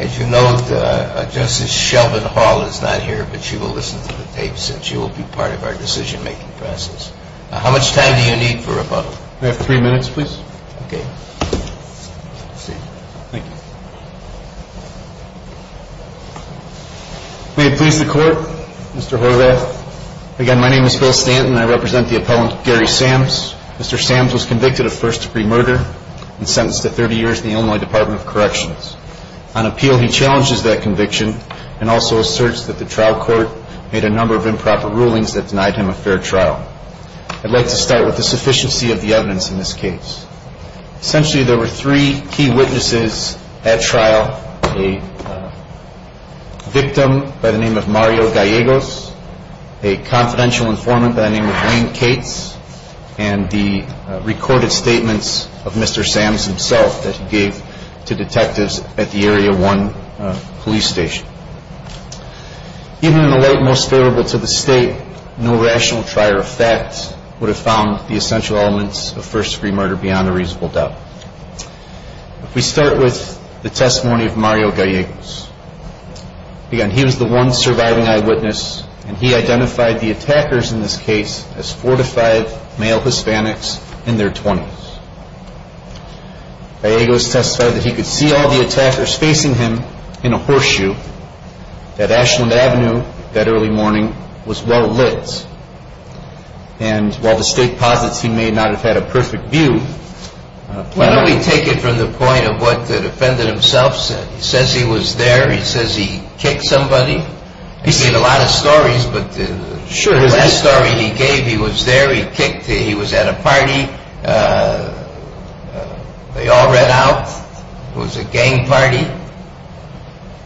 As you note, Justice Shelvin-Hall is not here, but she will listen to the tapes and she will be part of our decision-making process. Now, how much time do you need for rebuttal? We have three minutes, please. Okay. Thank you. May it please the Court, Mr. Horvath. Again, my name is Phil Stanton and I represent the appellant Gary Sams. Mr. Sams was convicted of first-degree murder and sentenced to 30 years in the Illinois Department of Corrections. On appeal, he challenges that conviction and also asserts that the trial court made a number of improper rulings that denied him a fair trial. I'd like to start with the sufficiency of the evidence in this case. Essentially, there were three key witnesses at trial, a victim by the name of Mario Gallegos, a confidential informant by the name of Wayne Cates, and the recorded statements of Mr. Sams himself that he gave to detectives at the Area 1 police station. Even in the light most favorable to the State, no rational trier of facts would have found the essential elements of first-degree murder beyond a reasonable doubt. If we start with the testimony of Mario Gallegos, again, he was the one surviving eyewitness and he identified the attackers in this case as four to five male Hispanics in their 20s. Gallegos testified that he could see all the attackers facing him in a horseshoe, that Ashland Avenue that early morning was well lit, and while the State posits he may not have had a perfect view... Why don't we take it from the point of what the defendant himself said? He says he was there, he says he kicked somebody. He made a lot of stories, but the last story he gave, he was there, he kicked, he was at a party, they all ran out, it was a gang party.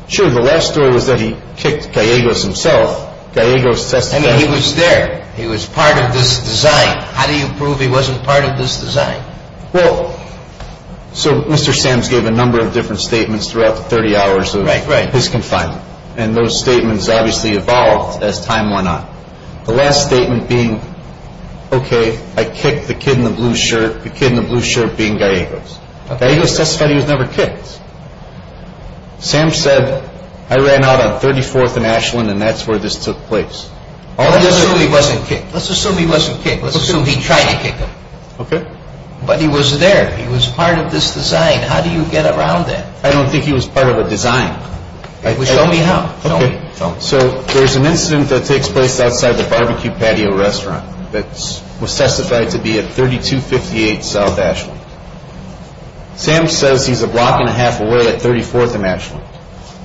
Sure, the last story was that he kicked Gallegos himself. Gallegos testified... I mean, he was there, he was part of this design. How do you prove he wasn't part of this design? Well, so Mr. Sams gave a number of different statements throughout the 30 hours of his confinement. And those statements obviously evolved as time went on. The last statement being, okay, I kicked the kid in the blue shirt, the kid in the blue shirt being Gallegos. Gallegos testified he was never kicked. Sams said, I ran out on 34th and Ashland and that's where this took place. Let's assume he wasn't kicked. Let's assume he wasn't kicked. Let's assume he tried to kick him. Okay. But he was there, he was part of this design. How do you get around that? I don't think he was part of a design. Well, show me how. Okay, so there's an incident that takes place outside the Barbecue Patio restaurant that was testified to be at 3258 South Ashland. Sams says he's a block and a half away at 34th and Ashland.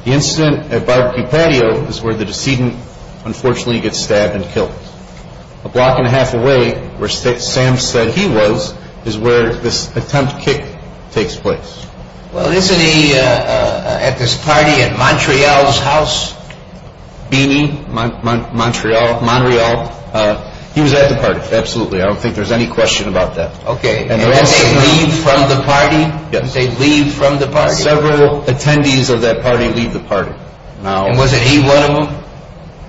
The incident at Barbecue Patio is where the decedent unfortunately gets stabbed and killed. A block and a half away, where Sams said he was, is where this attempt kick takes place. Well, isn't he at this party at Montreal's house? Beanie, Montreal. He was at the party, absolutely. I don't think there's any question about that. Okay, and they leave from the party? Yes. They leave from the party. Several attendees of that party leave the party. And wasn't he one of them?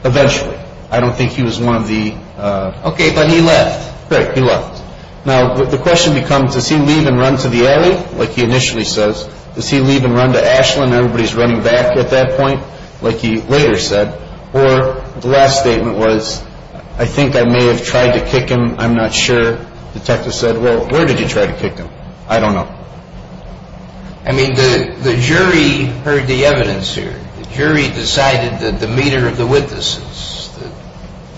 Eventually. I don't think he was one of the... Okay, but he left. Right, he left. Now, the question becomes, does he leave and run to the alley, like he initially says? Does he leave and run to Ashland and everybody's running back at that point, like he later said? Or the last statement was, I think I may have tried to kick him, I'm not sure. Detective said, well, where did you try to kick him? I don't know. I mean, the jury heard the evidence here. The jury decided the demeanor of the witnesses.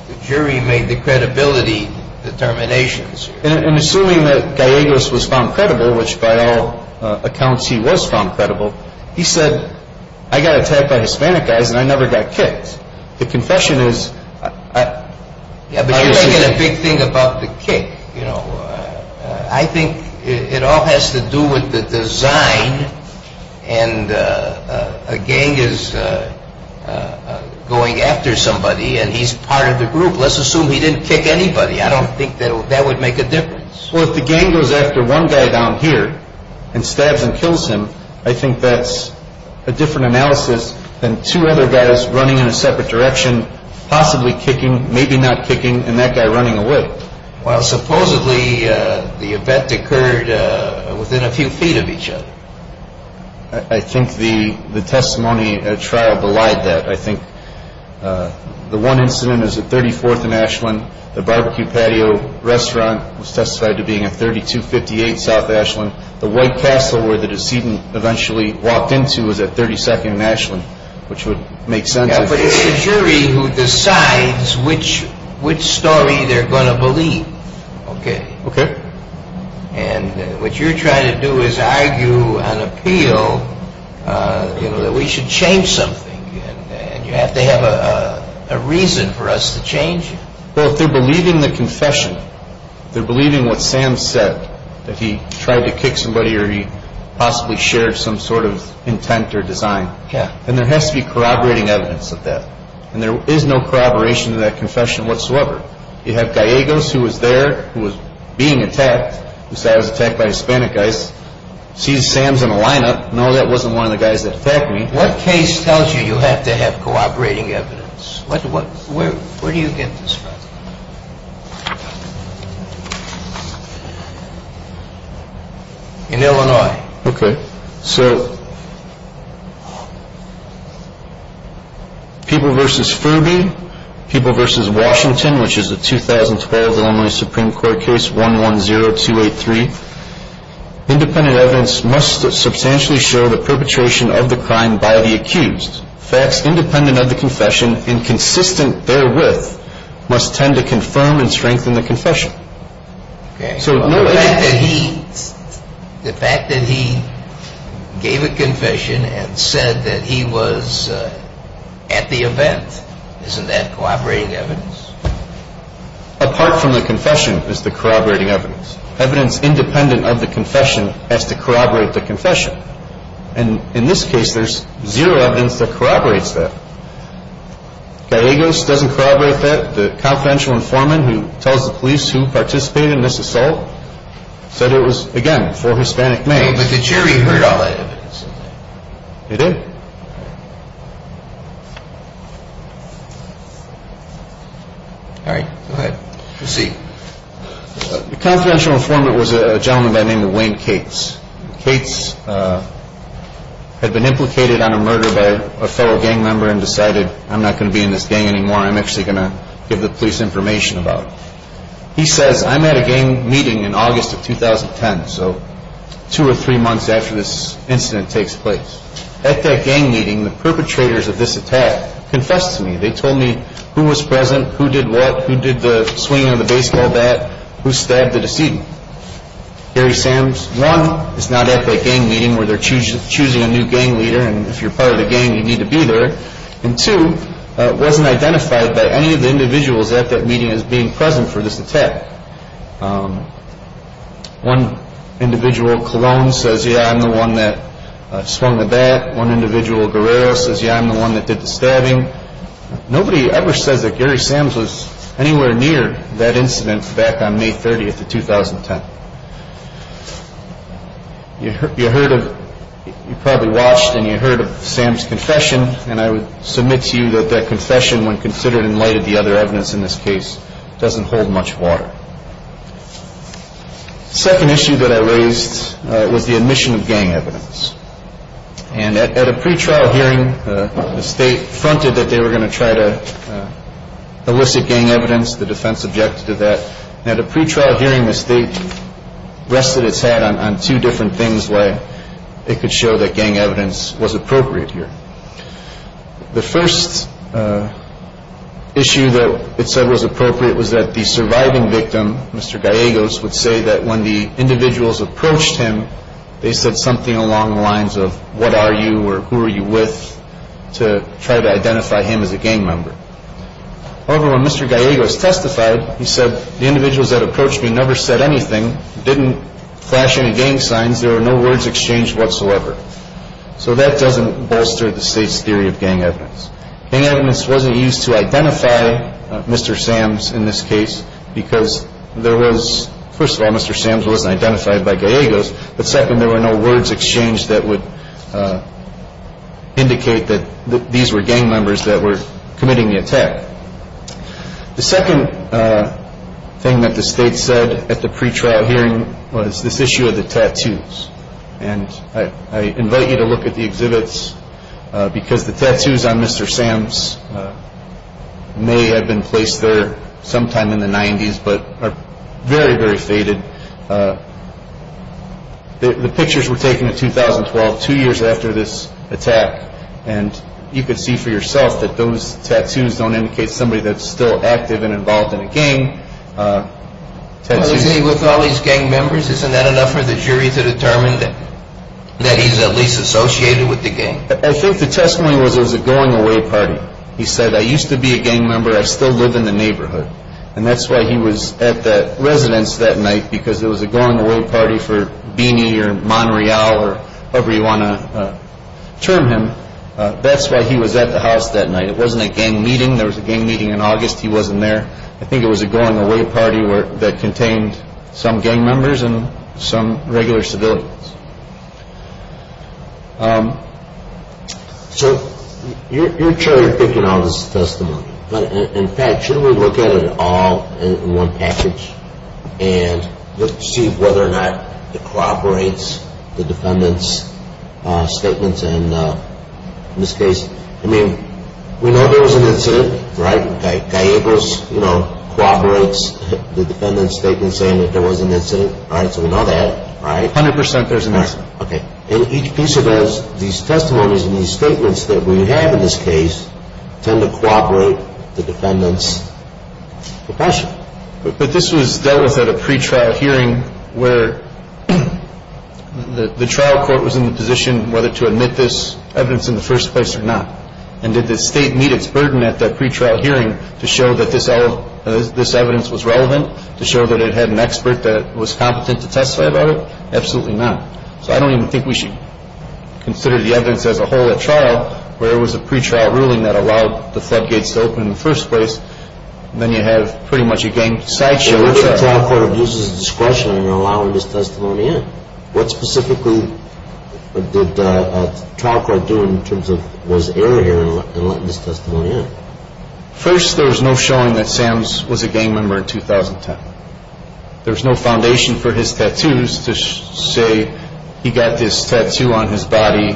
The jury made the credibility determinations here. And assuming that Gallegos was found credible, which by all accounts he was found credible, he said, I got attacked by Hispanic guys and I never got kicked. The confession is... Yeah, but here's the big thing about the kick. I think it all has to do with the design and a gang is going after somebody and he's part of the group. Let's assume he didn't kick anybody. I don't think that would make a difference. Well, if the gang goes after one guy down here and stabs and kills him, I think that's a different analysis than two other guys running in a separate direction, possibly kicking, maybe not kicking, and that guy running away. Well, supposedly the event occurred within a few feet of each other. I think the testimony trial belied that. I think the one incident is at 34th and Ashland. The barbecue patio restaurant was testified to being at 3258 South Ashland. The White Castle where the decedent eventually walked into was at 32nd and Ashland, which would make sense. Yeah, but it's the jury who decides which story they're going to believe, okay? Okay. And what you're trying to do is argue on appeal that we should change something and you have to have a reason for us to change. Well, if they're believing the confession, they're believing what Sam said, that he tried to kick somebody or he possibly shared some sort of intent or design, then there has to be corroborating evidence of that, and there is no corroboration of that confession whatsoever. You have Gallegos, who was there, who was being attacked, who said I was attacked by Hispanic guys, sees Sam's in a lineup, no, that wasn't one of the guys that attacked me. What case tells you you have to have corroborating evidence? Where do you get this from? In Illinois. Okay. So people versus Furby, people versus Washington, which is the 2012 Illinois Supreme Court case 110283, independent evidence must substantially show the perpetration of the crime by the accused. Facts independent of the confession and consistent therewith must tend to confirm and strengthen the confession. The fact that he gave a confession and said that he was at the event, isn't that corroborating evidence? Apart from the confession is the corroborating evidence. Evidence independent of the confession has to corroborate the confession, and in this case there's zero evidence that corroborates that. Gallegos doesn't corroborate that. The confidential informant who tells the police who participated in this assault said it was, again, for Hispanic males. But the jury heard all that evidence. They did. All right, go ahead. Proceed. The confidential informant was a gentleman by the name of Wayne Cates. Cates had been implicated on a murder by a fellow gang member and decided I'm not going to be in this gang anymore, I'm actually going to give the police information about it. He says, I'm at a gang meeting in August of 2010, so two or three months after this incident takes place. At that gang meeting, the perpetrators of this attack confessed to me. They told me who was present, who did what, who did the swinging of the baseball bat, who stabbed the decedent. Gary Sams, one, is not at that gang meeting where they're choosing a new gang leader and if you're part of the gang you need to be there. And two, it wasn't identified by any of the individuals at that meeting as being present for this attack. One individual, Colon, says, yeah, I'm the one that swung the bat. One individual, Guerrero, says, yeah, I'm the one that did the stabbing. Nobody ever says that Gary Sams was anywhere near that incident back on May 30th of 2010. You probably watched and you heard of Sams' confession and I would submit to you that that confession, when considered in light of the other evidence in this case, doesn't hold much water. The second issue that I raised was the admission of gang evidence. And at a pretrial hearing, the state fronted that they were going to try to elicit gang evidence. The defense objected to that. Now, the pretrial hearing, the state rested its head on two different things where it could show that gang evidence was appropriate here. The first issue that it said was appropriate was that the surviving victim, Mr. Gallegos, would say that when the individuals approached him, they said something along the lines of, what are you or who are you with, to try to identify him as a gang member. However, when Mr. Gallegos testified, he said, the individuals that approached me never said anything, didn't flash any gang signs, there were no words exchanged whatsoever. So that doesn't bolster the state's theory of gang evidence. Gang evidence wasn't used to identify Mr. Sams in this case because there was, first of all, Mr. Sams wasn't identified by Gallegos, but second, there were no words exchanged that would indicate that these were gang members that were committing the attack. The second thing that the state said at the pretrial hearing was this issue of the tattoos. And I invite you to look at the exhibits because the tattoos on Mr. Sams may have been placed there sometime in the 90s but are very, very faded. The pictures were taken in 2012, two years after this attack, and you could see for yourself that those tattoos don't indicate somebody that's still active and involved in a gang. With all these gang members, isn't that enough for the jury to determine that he's at least associated with the gang? I think the testimony was it was a going-away party. He said, I used to be a gang member, I still live in the neighborhood. And that's why he was at the residence that night because it was a going-away party for Beanie or Monreal or whoever you want to term him. That's why he was at the house that night. It wasn't a gang meeting. There was a gang meeting in August. He wasn't there. I think it was a going-away party that contained some gang members and some regular civilians. So you're sure you're picking on this testimony. In fact, should we look at it all in one package and see whether or not it cooperates the defendant's statements in this case? I mean, we know there was an incident, right? Guy Abrams cooperates the defendant's statement saying that there was an incident, right? So we know that, right? 100 percent there's an incident. Okay. And each piece of evidence, these testimonies and these statements that we have in this case tend to cooperate with the defendant's profession. But this was dealt with at a pretrial hearing where the trial court was in the position whether to admit this evidence in the first place or not. And did the State meet its burden at that pretrial hearing to show that this evidence was relevant, to show that it had an expert that was competent to testify about it? Absolutely not. So I don't even think we should consider the evidence as a whole at trial where it was a pretrial ruling that allowed the floodgates to open in the first place. Then you have pretty much a gang sideshow. But what if the trial court abuses discretion in allowing this testimony in? What specifically did the trial court do in terms of was error here in letting this testimony in? First, there was no showing that Sam was a gang member in 2010. There was no foundation for his tattoos to say he got this tattoo on his body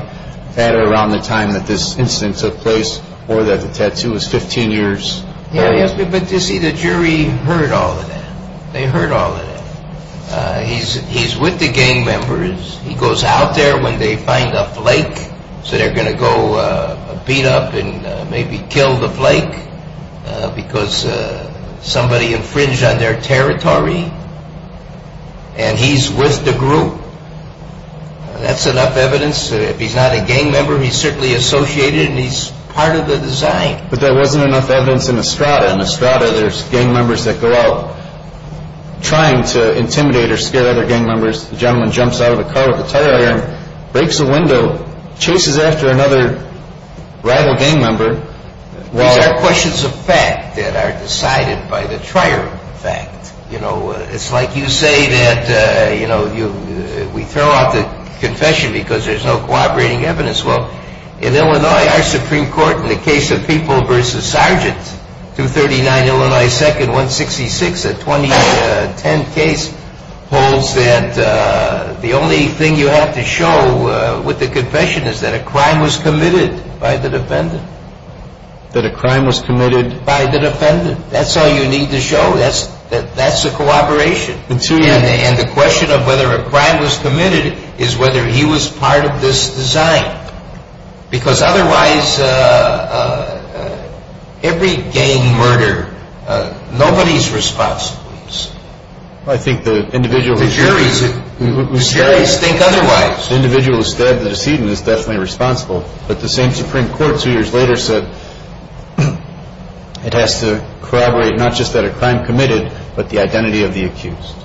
at or around the time that this incident took place or that the tattoo was 15 years. But you see, the jury heard all of that. They heard all of that. He's with the gang members. He goes out there when they find a flake. So they're going to go beat up and maybe kill the flake because somebody infringed on their territory. And he's with the group. That's enough evidence. If he's not a gang member, he's certainly associated and he's part of the design. But there wasn't enough evidence in Estrada. In Estrada, there's gang members that go out trying to intimidate or scare other gang members. The gentleman jumps out of the car with a tire iron, breaks a window, chases after another rival gang member. These are questions of fact that are decided by the trier of fact. It's like you say that we throw out the confession because there's no corroborating evidence. Well, in Illinois, our Supreme Court, in the case of People v. Sargent, 239 Illinois 2nd, 166, a 2010 case holds that the only thing you have to show with the confession is that a crime was committed by the defendant. That a crime was committed by the defendant. That's all you need to show. That's a corroboration. And the question of whether a crime was committed is whether he was part of this design. Because otherwise, every gang murder, nobody's responsible. I think the individual... The juries think otherwise. The individual who stabbed the decedent is definitely responsible. But the same Supreme Court two years later said it has to corroborate not just that a crime committed but the identity of the accused.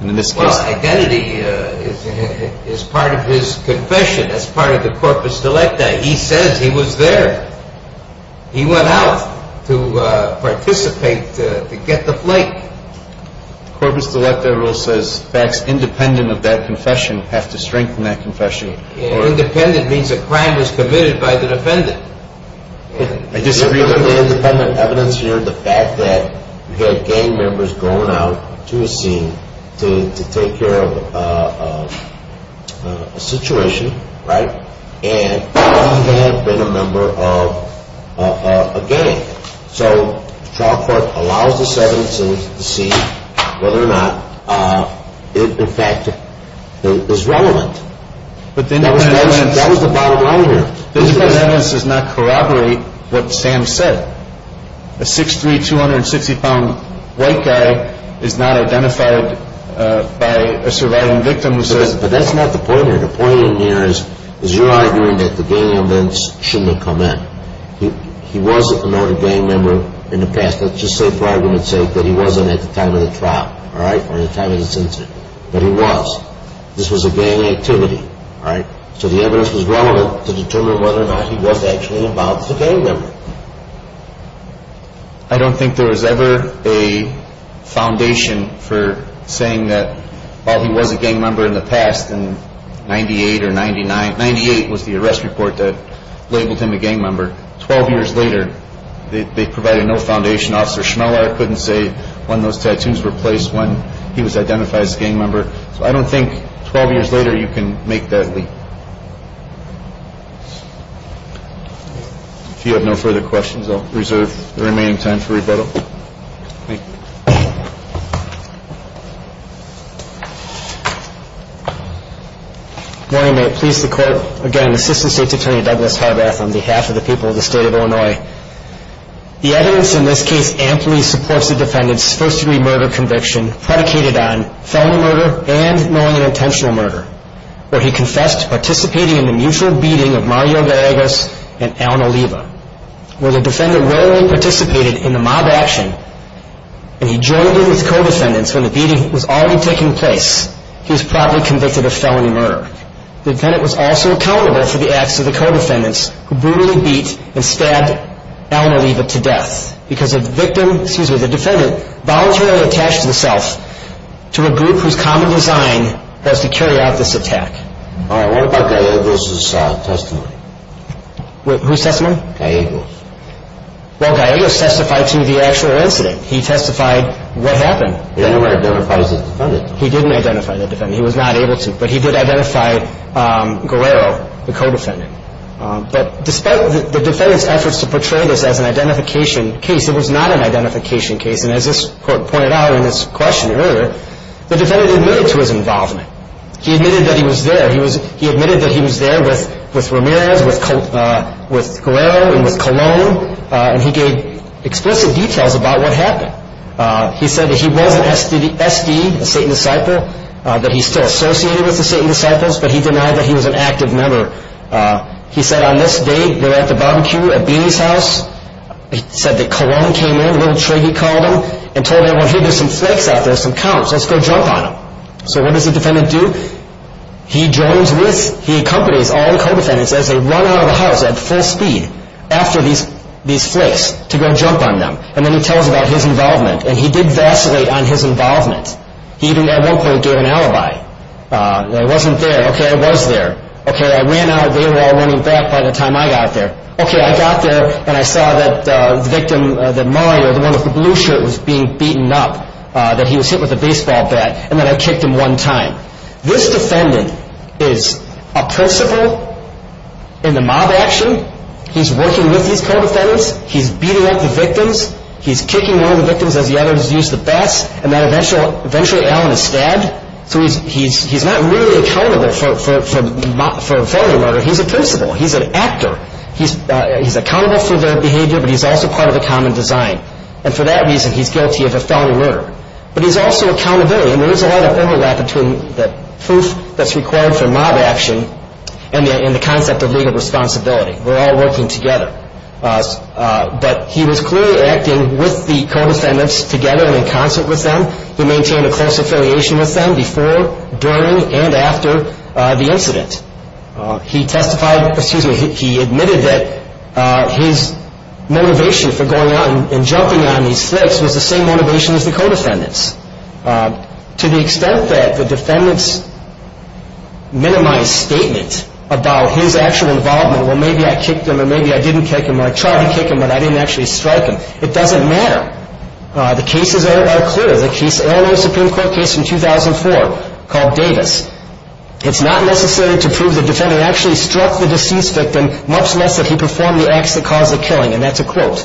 Well, identity is part of his confession. That's part of the corpus delicta. He says he was there. He went out to participate, to get the flake. The corpus delicta rule says facts independent of that confession have to strengthen that confession. Independent means a crime was committed by the defendant. I disagree with the independent evidence here. The fact that you had gang members going out to a scene to take care of a situation, right, and they may have been a member of a gang. So the trial court allows the sentence to see whether or not it, in fact, is relevant. That was the bottom line here. The independent evidence does not corroborate what Sam said. A 6'3", 260-pound white guy is not identified by a surviving victim who says... But that's not the point here. The point in here is you're arguing that the gang members shouldn't have come in. He was a promoted gang member in the past. Let's just say for argument's sake that he wasn't at the time of the trial, all right, or the time of the incident. But he was. This was a gang activity, all right? So the evidence was relevant to determine whether or not he was actually involved as a gang member. I don't think there was ever a foundation for saying that while he was a gang member in the past, in 98 or 99, 98 was the arrest report that labeled him a gang member. Twelve years later, they provided no foundation. Officer Schmeller couldn't say when those tattoos were placed, when he was identified as a gang member. So I don't think 12 years later you can make that leap. If you have no further questions, I'll reserve the remaining time for rebuttal. Thank you. Good morning. May it please the Court. Again, Assistant State's Attorney Douglas Harbath on behalf of the people of the State of Illinois. The evidence in this case amply supports the defendant's first-degree murder conviction predicated on felony murder and knowing and intentional murder, where he confessed to participating in the mutual beating of Mario Villegas and Alan Oliva. Where the defendant rarely participated in the mob action, and he joined in with co-defendants when the beating was already taking place, he was probably convicted of felony murder. The defendant was also accountable for the acts of the co-defendants who brutally beat and stabbed Alan Oliva to death because the victim, excuse me, the defendant, voluntarily attached himself to a group whose common design was to carry out this attack. All right. What about Gallegos' testimony? Whose testimony? Gallegos. Well, Gallegos testified to the actual incident. He testified what happened. He didn't identify as a defendant. He didn't identify the defendant. He was not able to. But he did identify Gallegos, the co-defendant. But despite the defendant's efforts to portray this as an identification case, it was not an identification case. And as this Court pointed out in this question earlier, the defendant admitted to his involvement. He admitted that he was there. He admitted that he was there with Ramirez, with Gallegos, and with Colon. And he gave explicit details about what happened. He said that he was an SD, a Satan Disciple, that he's still associated with the Satan Disciples, but he denied that he was an active member. He said, on this day, they were at the barbecue at Beany's house. He said that Colon came in, Little Triggy called him, and told him, well, here, there's some flakes out there, some comps. Let's go jump on them. So what does the defendant do? He joins with, he accompanies all the co-defendants as they run out of the house at full speed after these flakes to go jump on them. And then he tells about his involvement, and he did vacillate on his involvement. He even, at one point, gave an alibi. He wasn't there. Okay, I was there. Okay, I ran out, and they were all running back by the time I got there. Okay, I got there, and I saw that the victim, that Mario, the one with the blue shirt, was being beaten up, that he was hit with a baseball bat, and that I kicked him one time. This defendant is a principal in the mob action. He's working with these co-defendants. He's beating up the victims. He's kicking one of the victims as the other is used the best, and then eventually Allen is stabbed. So he's not really accountable for a felony murder. He's a principal. He's an actor. He's accountable for their behavior, but he's also part of the common design. And for that reason, he's guilty of a felony murder. But he's also accountable, and there is a lot of overlap between the proof that's required for mob action and the concept of legal responsibility. We're all working together. But he was clearly acting with the co-defendants together and in concert with them. He maintained a close affiliation with them before, during, and after the incident. He admitted that his motivation for going out and jumping on these flicks was the same motivation as the co-defendants. To the extent that the defendants minimized statements about his actual involvement, well, maybe I kicked him, or maybe I didn't kick him, or I tried to kick him, but I didn't actually strike him. It doesn't matter. The cases are clear. There was a Supreme Court case in 2004 called Davis. It's not necessary to prove the defendant actually struck the deceased victim, much less that he performed the acts that caused the killing, and that's a quote.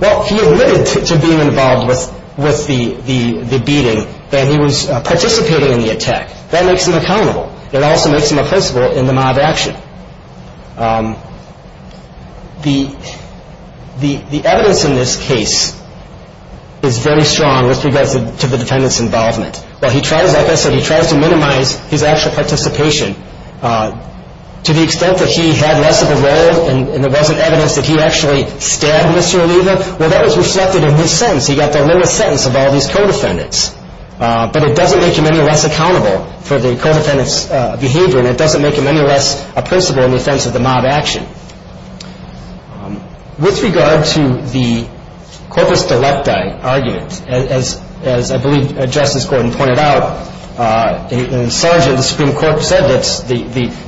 Well, he admitted to being involved with the beating, that he was participating in the attack. That makes him accountable. It also makes him a principal in the mob action. The evidence in this case is very strong with regards to the defendant's involvement. Well, he tries, like I said, he tries to minimize his actual participation. To the extent that he had less of a role, and there wasn't evidence that he actually stabbed Mr. Oliva, well, that was reflected in his sentence. He got the lowest sentence of all these co-defendants. But it doesn't make him any less accountable for the co-defendants' behavior, and it doesn't make him any less a principal in the offense of the mob action. With regard to the corpus delecti argument, as I believe Justice Gordon pointed out, and Sergeant of the Supreme Court said that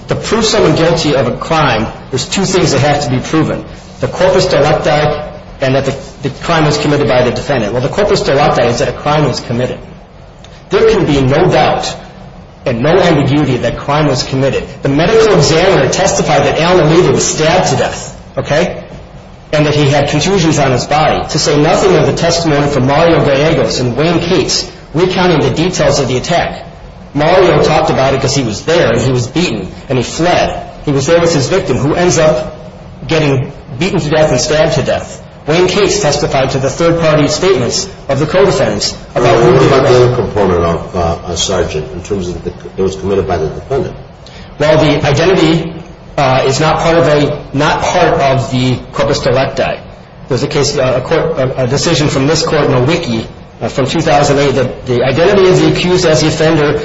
to prove someone guilty of a crime, there's two things that have to be proven, the corpus delecti and that the crime was committed by the defendant. Well, the corpus delecti is that a crime was committed. There can be no doubt and no ambiguity that a crime was committed. The medical examiner testified that Alan Oliva was stabbed to death, okay, and that he had contusions on his body. To say nothing of the testimony from Mario Gallegos and Wayne Cates recounting the details of the attack, Mario talked about it because he was there and he was beaten and he fled. He was there with his victim who ends up getting beaten to death and stabbed to death. Wayne Cates testified to the third-party statements of the co-defendants about who committed the crime. What about the other component of Sergeant in terms of it was committed by the defendant? Well, the identity is not part of the corpus delecti. There's a case, a decision from this court in a wiki from 2008 that the identity of the accused as the offender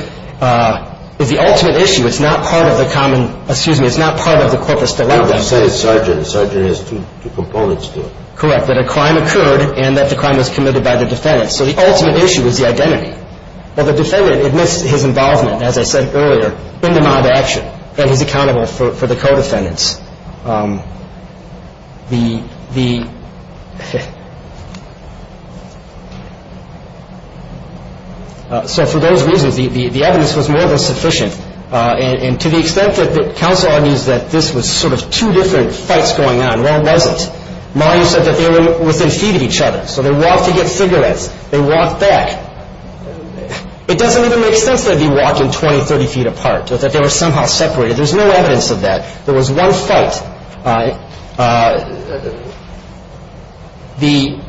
is the ultimate issue. It's not part of the common, excuse me, it's not part of the corpus delecti. You said it's Sergeant. Sergeant has two components to it. Correct, that a crime occurred and that the crime was committed by the defendant. So the ultimate issue is the identity. Well, the defendant admits his involvement, as I said earlier, and he's accountable for the co-defendants. So for those reasons, the evidence was more than sufficient. And to the extent that counsel argues that this was sort of two different fights going on, well, it wasn't. Mario said that they were within feet of each other, so they walked to get cigarettes, they walked back. It doesn't even make sense that they'd be walking 20, 30 feet apart, that they were somehow separated. There's no evidence of that. There was one fight. The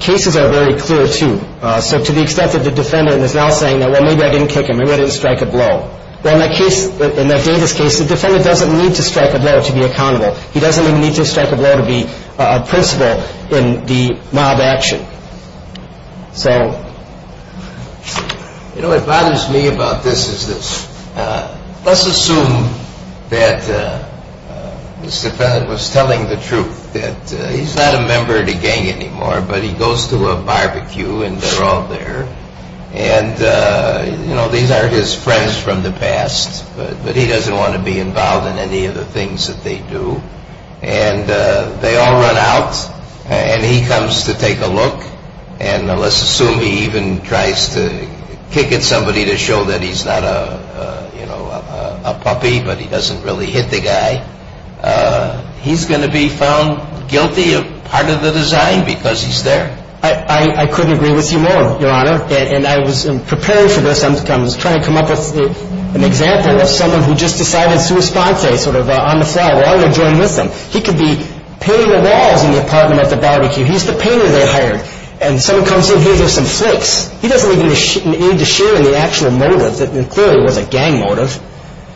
cases are very clear, too. So to the extent that the defendant is now saying, well, maybe I didn't kick him, maybe I didn't strike a blow. Well, in that case, in that Davis case, the defendant doesn't need to strike a blow to be accountable. He doesn't even need to strike a blow to be a principle in the mob action. Sam? You know, what bothers me about this is this. Let's assume that the defendant was telling the truth, that he's not a member of the gang anymore, but he goes to a barbecue and they're all there. And, you know, these are his friends from the past, but he doesn't want to be involved in any of the things that they do. And they all run out, and he comes to take a look. And let's assume he even tries to kick at somebody to show that he's not a puppy, but he doesn't really hit the guy. He's going to be found guilty of part of the design because he's there. I couldn't agree with you more, Your Honor. And I was preparing for this. I was trying to come up with an example of someone who just decided sui sponte, sort of on the fly, well, I'm going to join with them. He could be painting the walls in the apartment at the barbecue. He's the painter they hired. And someone comes in here, there's some flakes. He doesn't even need to share in the actual motive that clearly was a gang motive.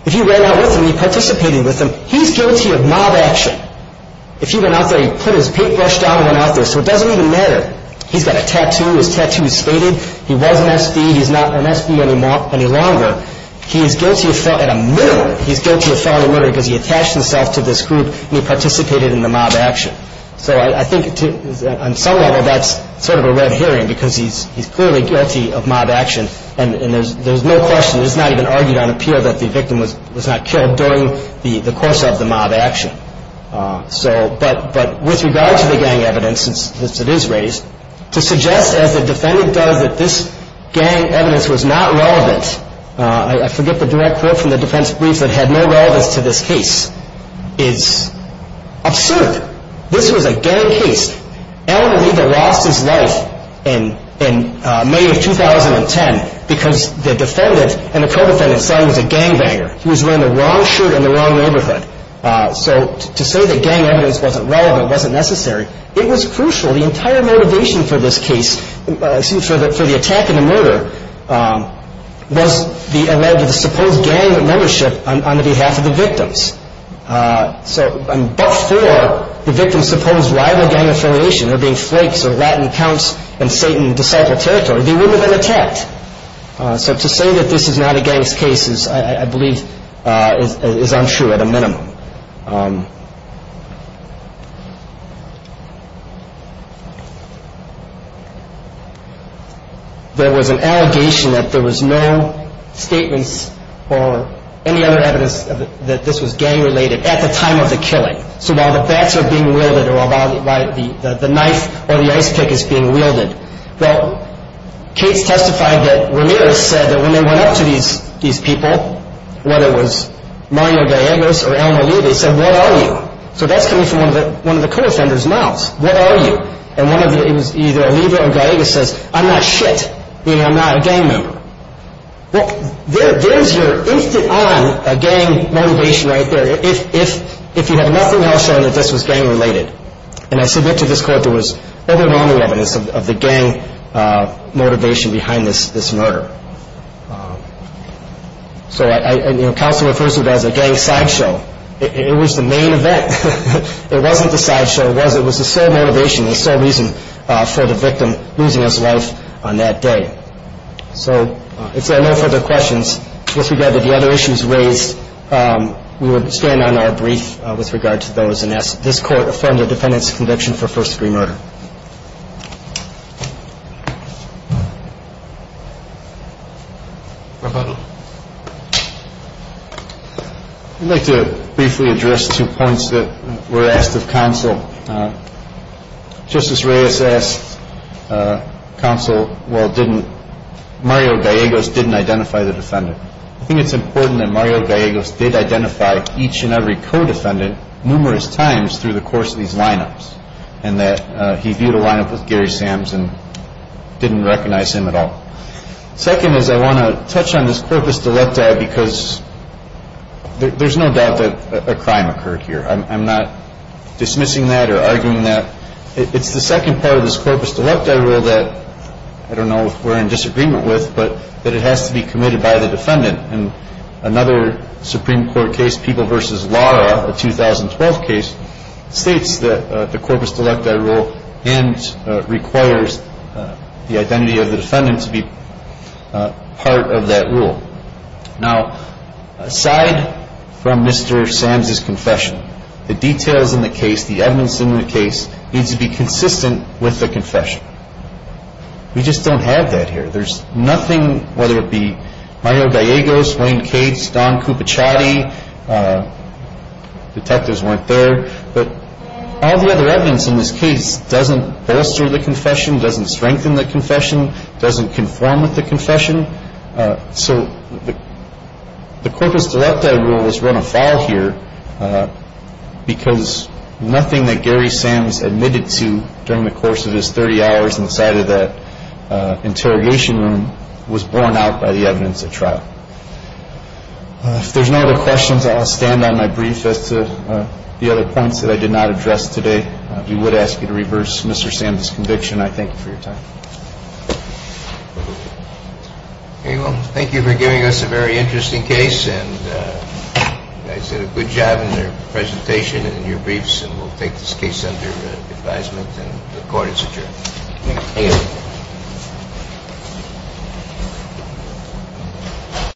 If he ran out with them, he participated with them, he's guilty of mob action. If he went out there, he put his paintbrush down and went out there. So it doesn't even matter. He's got a tattoo. His tattoo is stated. He was an SB. He's not an SB any longer. He's guilty of felony murder because he attached himself to this group and he participated in the mob action. So I think on some level that's sort of a red herring because he's clearly guilty of mob action. And there's no question. It's not even argued on appeal that the victim was not killed during the course of the mob action. But with regard to the gang evidence, since it is raised, to suggest as the defendant does that this gang evidence was not relevant, I forget the direct quote from the defense brief that had no relevance to this case, is absurd. This was a gang case. Alan Riegel lost his life in May of 2010 because the defendant and the co-defendant said he was a gangbanger. He was wearing the wrong shirt in the wrong neighborhood. So to say that gang evidence wasn't relevant, wasn't necessary, it was crucial. The entire motivation for this case, excuse me, for the attack and the murder, was the alleged supposed gang membership on behalf of the victims. So but for the victim's supposed rival gang affiliation, there being flakes or Latin counts in Satan's disciple territory, they wouldn't have been attacked. So to say that this is not a gang's case is, I believe, is untrue at a minimum. There was an allegation that there was no statements or any other evidence that this was gang-related at the time of the killing. So while the bats are being wielded or the knife or the ice pick is being wielded, well, case testified that Ramirez said that when they went up to these people, whether it was Mario Gallegos or Alan O'Leary, they said, what are you? So that's coming from one of the co-offenders' mouths. What are you? And one of the, it was either O'Leary or Gallegos says, I'm not shit. Meaning I'm not a gang member. Well, there's your instant-on gang motivation right there. If you had nothing else showing that this was gang-related. And I submit to this court there was overwhelming evidence of the gang motivation behind this murder. So counsel refers to it as a gang sideshow. It was the main event. It wasn't the sideshow. It was the sole motivation, the sole reason for the victim losing his life on that day. So if there are no further questions, I guess we've got the other issues raised. We would stand on our brief with regard to those, and ask that this court affirm the defendant's conviction for first-degree murder. I'd like to briefly address two points that were asked of counsel. Justice Reyes asked counsel, well, didn't, Mario Gallegos didn't identify the defendant. I think it's important that Mario Gallegos did identify each and every co-defendant numerous times through the course of these lineups. And that he viewed a lineup with Gary Sams and didn't recognize him at all. Second is I want to touch on this corpus delicta because there's no doubt that a crime occurred here. I'm not dismissing that or arguing that. It's the second part of this corpus delicta rule that I don't know if we're in disagreement with, but that it has to be committed by the defendant. And another Supreme Court case, People v. Lara, a 2012 case, states that the corpus delicta rule and requires the identity of the defendant to be part of that rule. Now, aside from Mr. Sams' confession, the details in the case, the evidence in the case, needs to be consistent with the confession. We just don't have that here. There's nothing, whether it be Mario Gallegos, Wayne Cates, Don Cupichatti, detectives weren't there, but all the other evidence in this case doesn't bolster the confession, doesn't strengthen the confession, doesn't conform with the confession. So the corpus delicta rule is run afoul here because nothing that Gary Sams admitted to during the course of his 30 hours inside of that interrogation room was borne out by the evidence at trial. If there's no other questions, I'll stand on my brief as to the other points that I did not address today. We would ask you to reverse Mr. Sams' conviction. I thank you for your time. Okay, well, thank you for giving us a very interesting case, and you guys did a good job in their presentation and in your briefs, and we'll take this case under advisement, and the court is adjourned. Thank you.